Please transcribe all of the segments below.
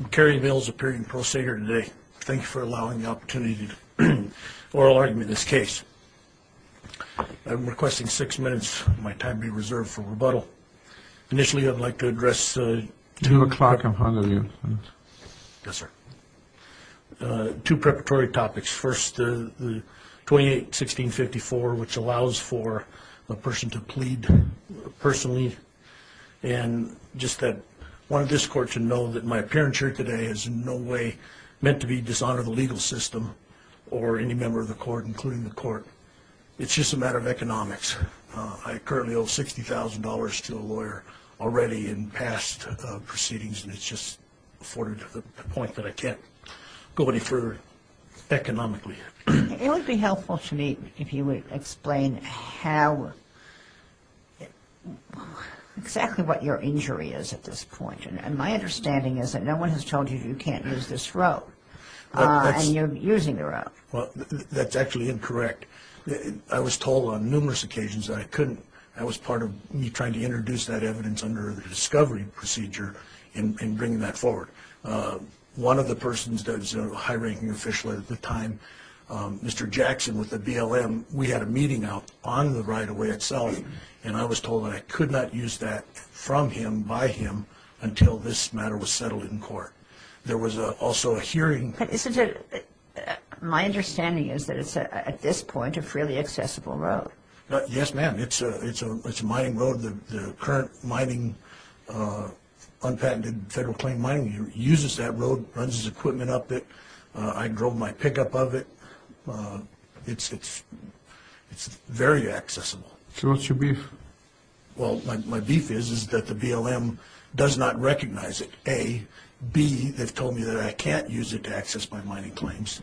I'm Kerry Mills appearing in pro se here today. Thank you for allowing the opportunity to oral argument this case. I'm requesting six minutes of my time be reserved for rebuttal. Initially I'd like to address two preparatory topics. First the 28 1654 which allows for a person to plead personally and just that one of this court to know that my appearance here today is in no way meant to be dishonor the legal system or any member of the court including the court. It's just a matter of economics. I currently owe $60,000 to a lawyer already in past proceedings and it's just afforded the point that I can't go any further economically. It would be helpful to me if you would explain how exactly what your injury is at this point and my understanding is that no one has told you you can't use this row and you're using the row. Well that's actually incorrect. I was told on numerous occasions I couldn't. That was part of me trying to introduce that evidence under the discovery procedure in bringing that forward. One of the persons that was a high-ranking official at the time, Mr. Jackson with the BLM, we had a meeting out on the right-of-way itself and I was told I could not use that from him by him until this matter was settled in court. There was also a hearing. My understanding is that it's at this point a freely accessible road. Yes ma'am. It's a mining road. The current mining, unpatented federal claim uses that road, runs his equipment up it. I drove my pickup of it. It's very accessible. So what's your beef? Well my beef is is that the BLM does not recognize it. A. B. They've told me that I can't use it to access my mining claims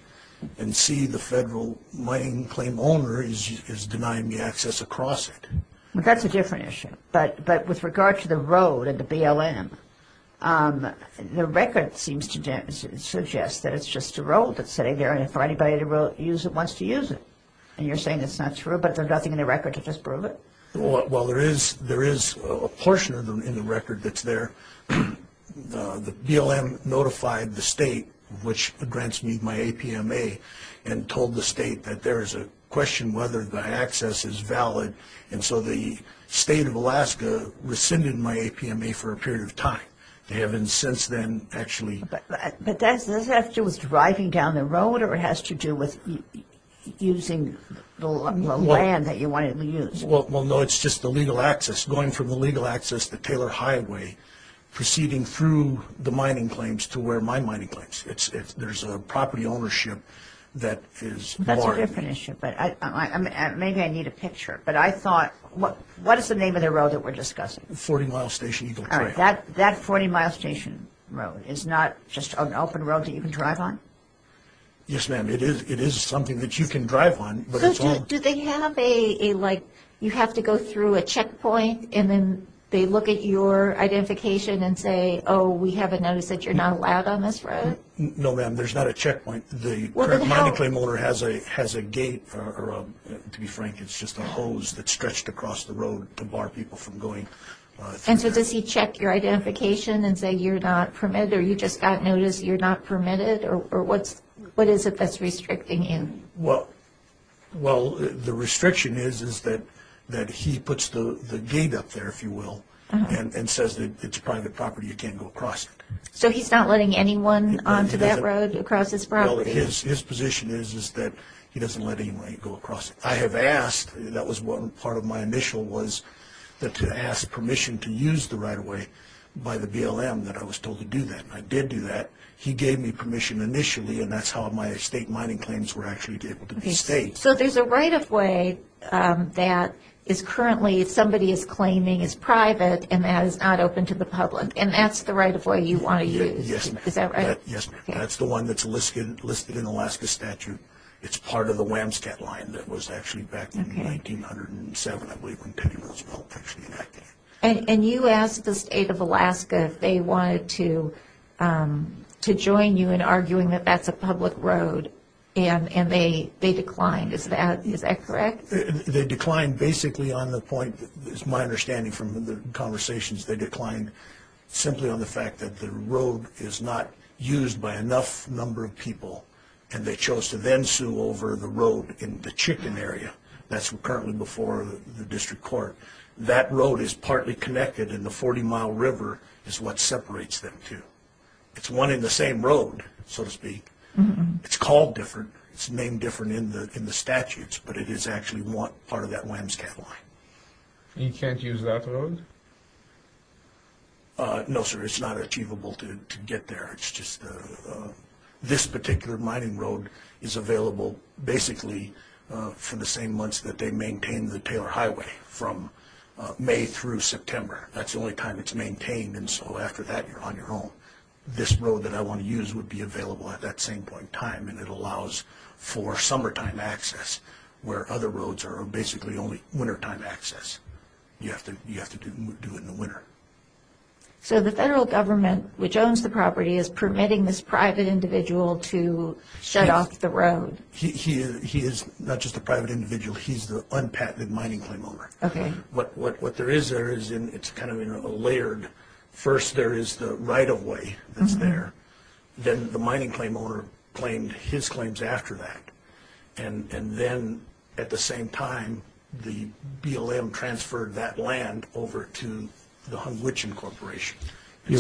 and C. The federal mining claim owner is denying me access across it. That's a different issue but but with regard to the road and the BLM, the record seems to suggest that it's just a road that's sitting there and for anybody to use it wants to use it and you're saying it's not true but there's nothing in the record to disprove it? Well there is there is a portion of them in the record that's there. The BLM notified the state which grants me my APMA and told the state of Alaska rescinded my APMA for a period of time. They haven't since then actually. But does this have to do with driving down the road or it has to do with using the land that you wanted to use? Well no it's just the legal access. Going from the legal access to Taylor Highway, proceeding through the mining claims to where my mining claims. There's a property ownership that is. That's a different issue but maybe I need a picture but I thought what what is the name of the road that we're discussing? 40 mile station. That 40 mile station road is not just an open road that you can drive on? Yes ma'am it is it is something that you can drive on. Do they have a like you have to go through a checkpoint and then they look at your identification and say oh we have a notice that you're not allowed on this road? No ma'am there's not a checkpoint. The mining claim owner has a has a gate or to be frank it's just a hose that's stretched across the road to bar people from going. And so does he check your identification and say you're not permitted or you just got notice you're not permitted or what's what is it that's restricting him? Well the restriction is is that that he puts the the gate up there if you will and says that it's private property you can't go across it. So he's not letting anyone onto that road across his property? His position is is that he doesn't let anyone go across it. I have asked that was one part of my initial was that to ask permission to use the right-of-way by the BLM that I was told to do that. I did do that he gave me permission initially and that's how my estate mining claims were actually able to be staged. So there's a right-of-way that is currently somebody is claiming is private and that is not open to the public and that's the right-of-way you want to use? Yes that's the one that's listed listed in Alaska statute. It's part of the Wamscat line that was actually back in 1907. And you asked the state of Alaska if they wanted to to join you in arguing that that's a public road and and they they declined is that is that correct? They declined basically on the point is my understanding from the conversations they declined simply on the fact that the road is not used by enough number of people and they chose to then sue over the road in the chicken area that's currently before the district court. That road is partly connected in the 40 mile river is what separates them two. It's one in the same road so to speak. It's called different it's named different in the in the statutes but it is actually one part of that Wamscat line. You can't use that road? No sir it's not achievable to to get there it's just this particular mining road is available basically for the same months that they maintain the Taylor Highway from May through September. That's the only time it's maintained and so after that you're on your own. This road that I want to use would be available at that same point in time and it allows for summertime access where other roads are basically only access you have to you have to do it in the winter. So the federal government which owns the property is permitting this private individual to shut off the road? He is not just a private individual he's the unpatented mining claim owner. Okay. What there is there is in it's kind of you know layered first there is the right-of-way that's there then the mining claim owner claimed his claims after that and and then at the same time the BLM transferred that land over to the Hunwichen Corporation. You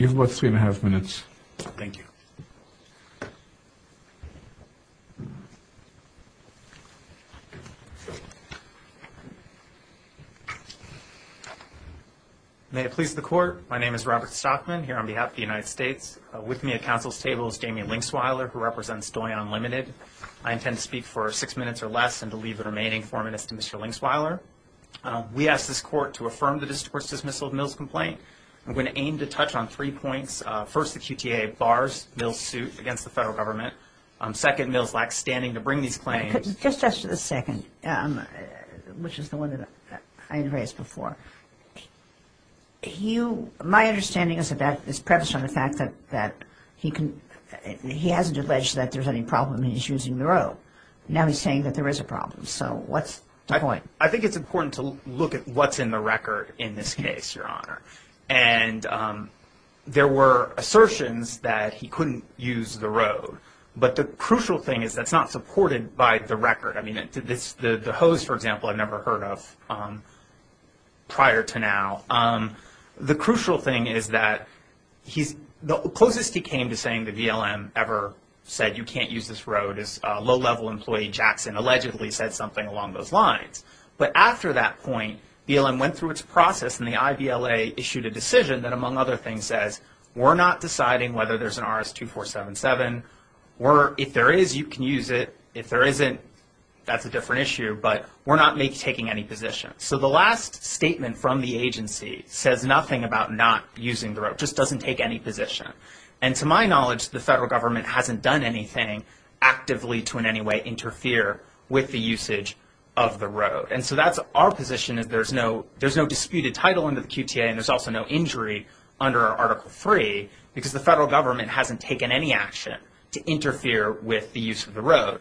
have about three and a half minutes. Thank you. May it please the court my name is Robert Stockman here on behalf of the United States with me at counsel's table is Damian Linksweiler who represents Doyon Unlimited. I intend to speak for six minutes or less and to leave the remaining four minutes to Mr. Linksweiler. We ask this court to affirm the district court's dismissal of Mills complaint. I'm going to aim to touch on three points. First the QTA bars Mills suit against the federal government. Second Mills lacks standing to bring these claims. Just after the second which is the one that I raised before you my understanding is that this preface on the fact that that he can he hasn't alleged that there's any problem he's using the road. Now he's saying that there is a problem so what's the point? I think it's important to look at what's in the record in this case your honor and there were assertions that he couldn't use the road but the crucial thing is that's not supported by the to now. The crucial thing is that he's the closest he came to saying the VLM ever said you can't use this road as a low-level employee Jackson allegedly said something along those lines. But after that point VLM went through its process and the IVLA issued a decision that among other things says we're not deciding whether there's an RS-2477 or if there is you can use it if there isn't that's a different issue but we're not making taking any position so the last statement from the agency says nothing about not using the road just doesn't take any position and to my knowledge the federal government hasn't done anything actively to in any way interfere with the usage of the road and so that's our position is there's no there's no disputed title under the QTA and there's also no injury under article three because the federal government hasn't taken any action to interfere with the use of the road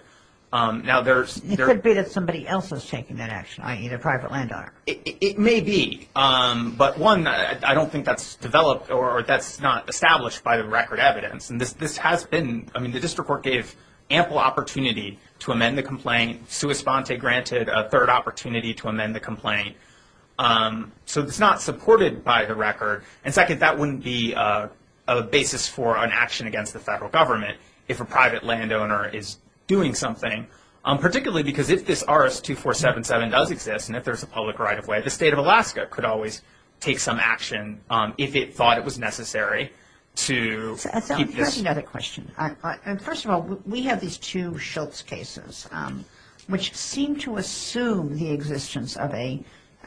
now there's it could be that somebody else is taking that action i.e. a private landowner it may be but one i don't think that's developed or that's not established by the record evidence and this this has been i mean the district court gave ample opportunity to amend the complaint sua sponte granted a third opportunity to amend the complaint so it's not supported by the record and second that wouldn't be a basis for an action against the federal government if a private landowner is doing something um particularly because if this rs2477 does exist and if there's a public right-of-way the state of alaska could always take some action um if it thought it was necessary to that's another question and first of all we have these two schultz cases um which seem to assume the existence of a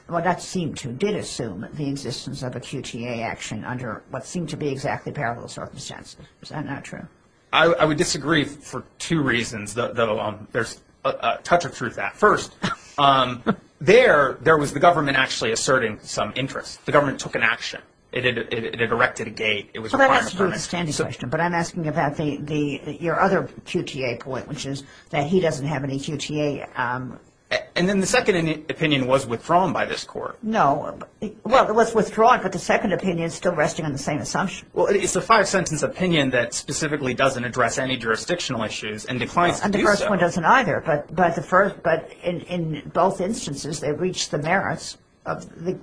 well that seemed to did assume the existence of a qta action under what seemed to be exactly parallel circumstance is that not true i i would disagree for two reasons though um there's a touch of truth at first um there there was the government actually asserting some interest the government took an action it had it had erected a gate it was a standing question but i'm asking about the the your other qta point which is that he doesn't have any qta um and then the second opinion was withdrawn by this court no well it was withdrawn but the second opinion is still resting on the assumption well it's a five sentence opinion that specifically doesn't address any jurisdictional issues and declines and the first one doesn't either but but the first but in in both instances they reach the merits of the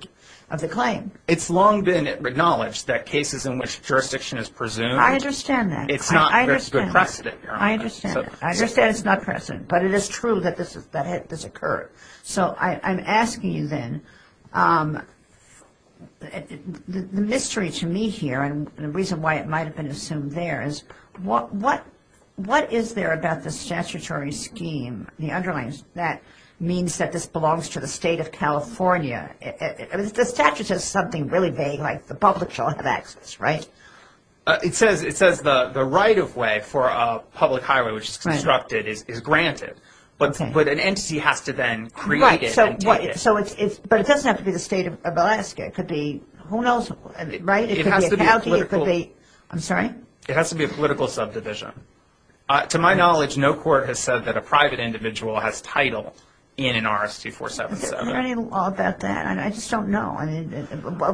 of the claim it's long been acknowledged that cases in which jurisdiction is presumed i understand that it's not a good precedent i understand i understand it's not precedent but it is true that this is that had this occurred so i i'm asking you then um the mystery to me here and the reason why it might have been assumed there is what what what is there about the statutory scheme the underlines that means that this belongs to the state of california the statute is something really vague like the public shall have access right it says it says the the right-of-way for a public highway which is constructed is granted but but an entity has to then create it so what so it's it's but it doesn't have to be the state of alaska it could be who knows right it has to be healthy it could be i'm sorry it has to be a political subdivision uh to my knowledge no court has said that a private individual has title in an rs2477 is there any law about that i just don't know i mean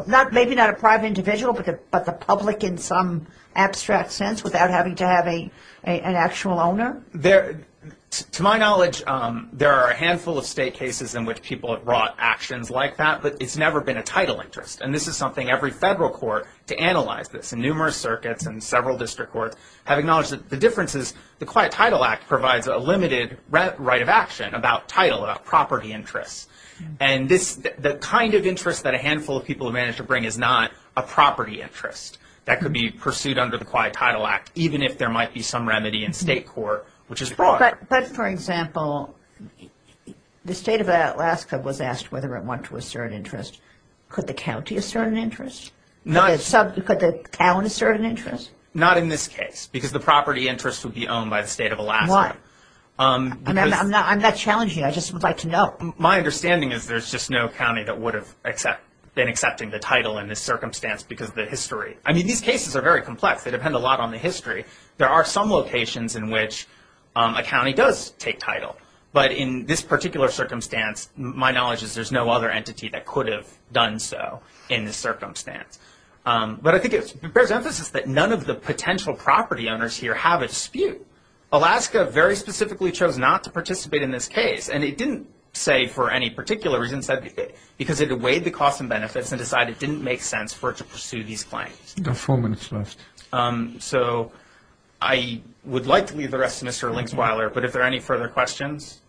not maybe not a private individual but but the public in some abstract sense without having to have a an actual owner there to my knowledge um there are a handful of state cases in which people have brought actions like that but it's never been a title interest and this is something every federal court to analyze this in numerous circuits and several district courts have acknowledged that the difference is the quiet title act provides a limited right of action about title about property interests and this the kind of interest that a handful of people have managed to bring is not a property interest that could be pursued under the quiet title act even if there might be some which is but but for example the state of alaska was asked whether it went to a certain interest could the county a certain interest not some could the town a certain interest not in this case because the property interest would be owned by the state of alaska um i'm not i'm not challenging i just would like to know my understanding is there's just no county that would have except been accepting the title in this circumstance because the history i mean cases are very complex they depend a lot on the history there are some locations in which a county does take title but in this particular circumstance my knowledge is there's no other entity that could have done so in this circumstance um but i think it bears emphasis that none of the potential property owners here have a dispute alaska very specifically chose not to participate in this case and it didn't say for any particular reason said because it weighed the cost and um so i would like to leave the rest of mr linksweiler but if there are any further questions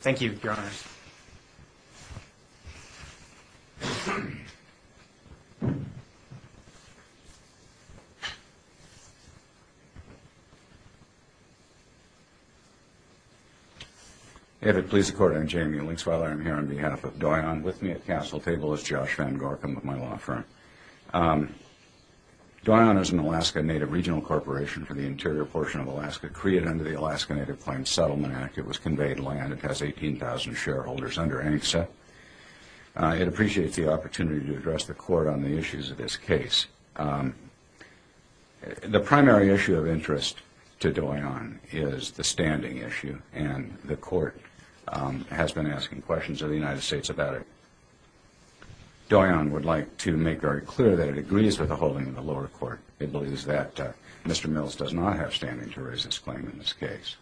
thank you your honors if it please the court i'm jamie linksweiler i'm here on behalf of doyon with me at council table is josh van gorkum with my law firm um doyon is an alaska native regional corporation for the interior portion of alaska created under the alaska native plain settlement act it was conveyed land it has 18 000 shareholders under angsa it appreciates the opportunity to address the court on the issues of this case um the primary issue of interest to doyon is the standing issue and the court um has been asking questions of the united states about it doyon would like to make very clear that it agrees with the holding of the lower court it believes that uh mr mills does not have standing to raise this claim in this case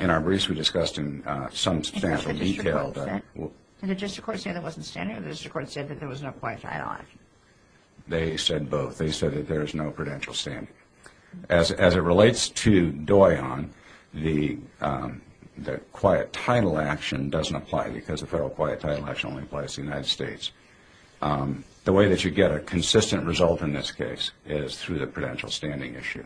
in our briefs we discussed in uh some substantial detail they said both they said that there is no prudential standing as as it relates to doyon the um the quiet title action doesn't apply because the federal quiet title action only applies to the united states um the way that you get a consistent result in this case is through the prudential standing issue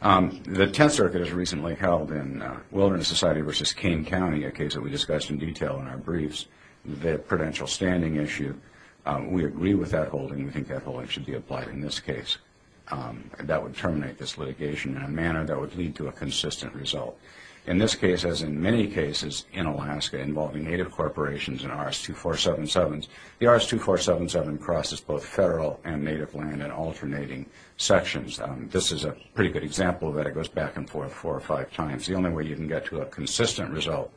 the tenth circuit is recently held in wilderness society versus cane county a case that we discussed in detail in our briefs the prudential standing issue we agree with that holding we terminate this litigation in a manner that would lead to a consistent result in this case as in many cases in alaska involving native corporations and rs2477s the rs2477 crosses both federal and native land and alternating sections um this is a pretty good example that it goes back and forth four or five times the only way you can get to a consistent result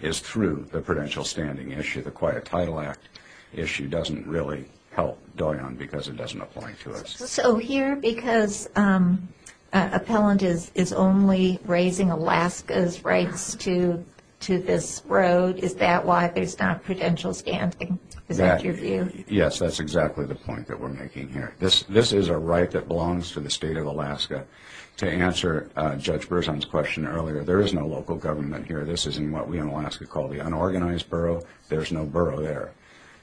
is through the prudential standing issue the quiet title act issue doesn't really help because it doesn't apply to us so here because um appellant is is only raising alaska's rights to to this road is that why there's not prudential standing is that your view yes that's exactly the point that we're making here this this is a right that belongs to the state of alaska to answer uh judge berzon's question earlier there is no local government here this isn't what we in alaska call the unorganized borough there's no borough there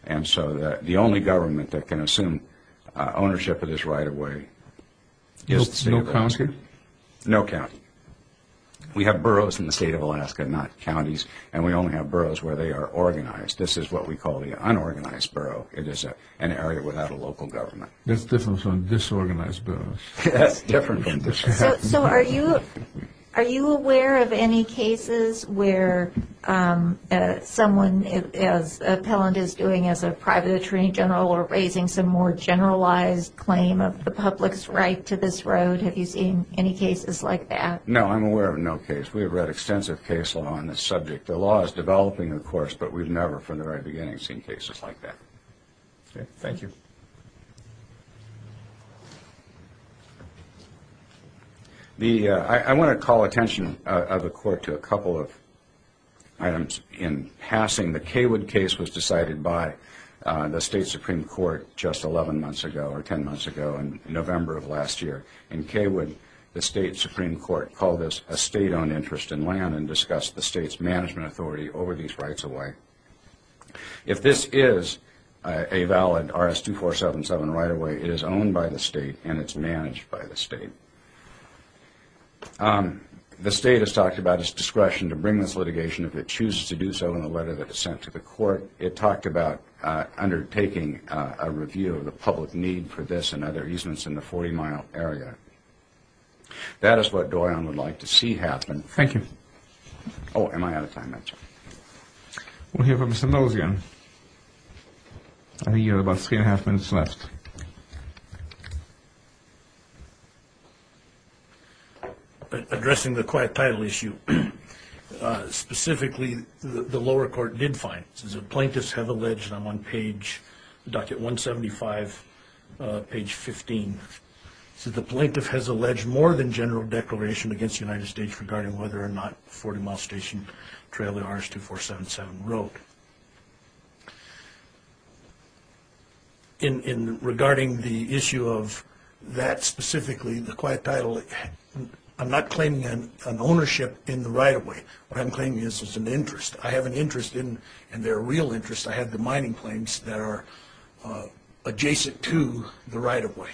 and so that the only government that can assume uh ownership of this right away yes no county no county we have boroughs in the state of alaska not counties and we only have boroughs where they are organized this is what we call the unorganized borough it is a an area without a local government that's different from disorganized boroughs that's different so are you are you aware of any cases where um someone as appellant is doing as a private attorney general or raising some more generalized claim of the public's right to this road have you seen any cases like that no i'm aware of no case we have read extensive case law on this subject the law is developing of course but we've never from the very beginning seen cases like that okay thank you the i want to call attention of the court to a couple of items in passing the caywood case was decided by the state supreme court just 11 months ago or 10 months ago in november of last year in caywood the state supreme court called this a state-owned interest in land and discussed the state's management authority over these rights away if this is a valid rs2477 right away it is owned by the state and it's managed by the state um the state has talked about its discretion to bring this litigation if it chooses to do so in the letter that is sent to the court it talked about uh undertaking uh a review of the public need for this and other easements in the 40 mile area that is what dorian would like to see happen thank you oh am i out of time we'll hear from mr mills again i think you have about three and a half minutes left addressing the quiet title issue uh specifically the lower court did find this is a plaintiff's have alleged i'm on page docket 175 uh page 15 so the plaintiff has alleged more than general declaration against the united states regarding whether or not 40 mile station trailer rs2477 wrote in in regarding the issue of that specifically the quiet title i'm not claiming an ownership in the right away what i'm claiming this is an interest i have an interest in and their real interest i have the mining claims that are uh adjacent to the right of way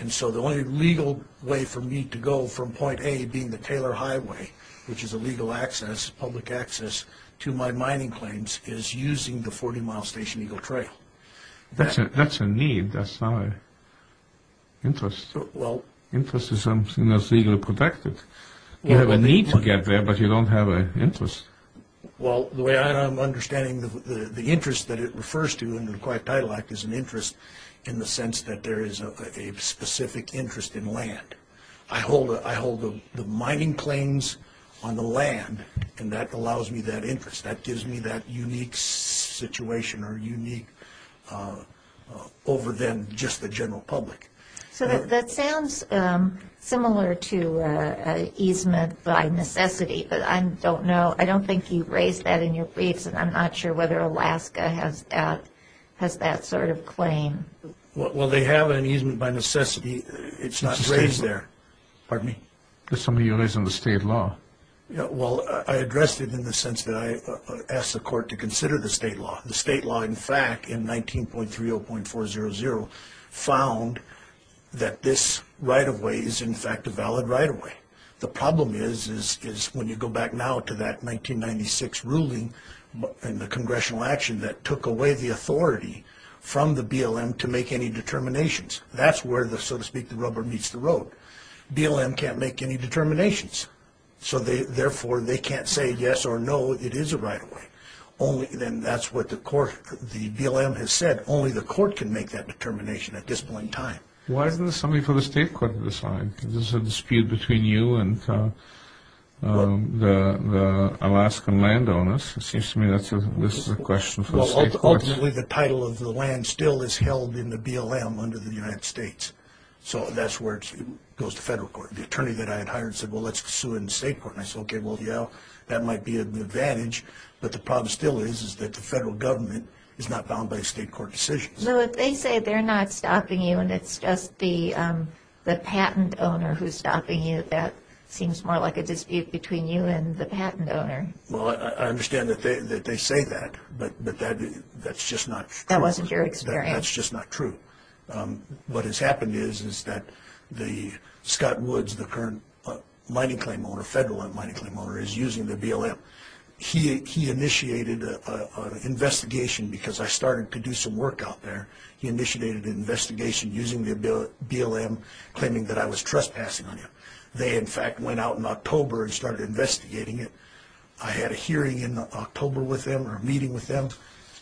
and so the only legal way for me to go from point a being the taylor highway which is a legal access public access to my mining claims is using the 40 mile station eagle trail that's a that's a need that's not a interest well interest is something that's legally protected you have a need to get there but you don't have a interest well the way i'm understanding the the interest that it refers to in the quiet title act is an interest in the sense that there is a specific interest in land i hold i hold the mining claims on the land and that allows me that interest that gives me that unique situation or unique uh over them just the general public so that sounds um similar to uh easement by necessity but i don't know i don't think you raised that in your briefs and i'm not sure whether alaska has that has that sort of claim well they have an easement by necessity it's not raised there pardon me there's somebody who lives in the state law yeah well i addressed it in the sense that i asked the court to consider the state law the state law in fact in 19.30.400 found that this right-of-way is in fact a valid right-of-way the problem is is when you go back now to that 1996 ruling in the congressional action that took away the authority from the blm to make any determinations that's where the so to speak the rubber meets the road blm can't make any determinations so they therefore they can't say yes or no it is a right-of-way only then that's what the court the blm has said only the court can make that determination at this point in time why is this something for the state court to decide there's a dispute between you and the alaskan landowners it seems to me that's a this is a question for the state courts ultimately the title of the land still is held in the blm under the united states so that's where it goes to federal court the attorney that i had hired said well let's sue in the state court and i said okay well yeah that might be an advantage but the problem still is is that the federal government is not bound by state court decisions so if they say they're not stopping you and it's just the um the patent owner who's stopping you that seems more like a dispute between you and the patent owner well i understand that they that they say that but but that that's just not that wasn't your experience that's just not true um what has happened is is that the scott woods the current mining claim owner federal mining claim owner is using the blm he he initiated a investigation because i started to do some work out there he initiated an investigation using the blm claiming that i was trespassing on him they in fact went out in october and started investigating it i had a hearing in october with them or a meeting with them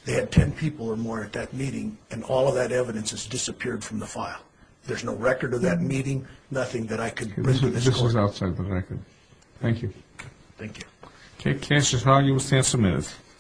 they had 10 people or more at that meeting and all of that evidence has disappeared from the file there's no record of meeting nothing that i could bring this was outside the record thank you thank you okay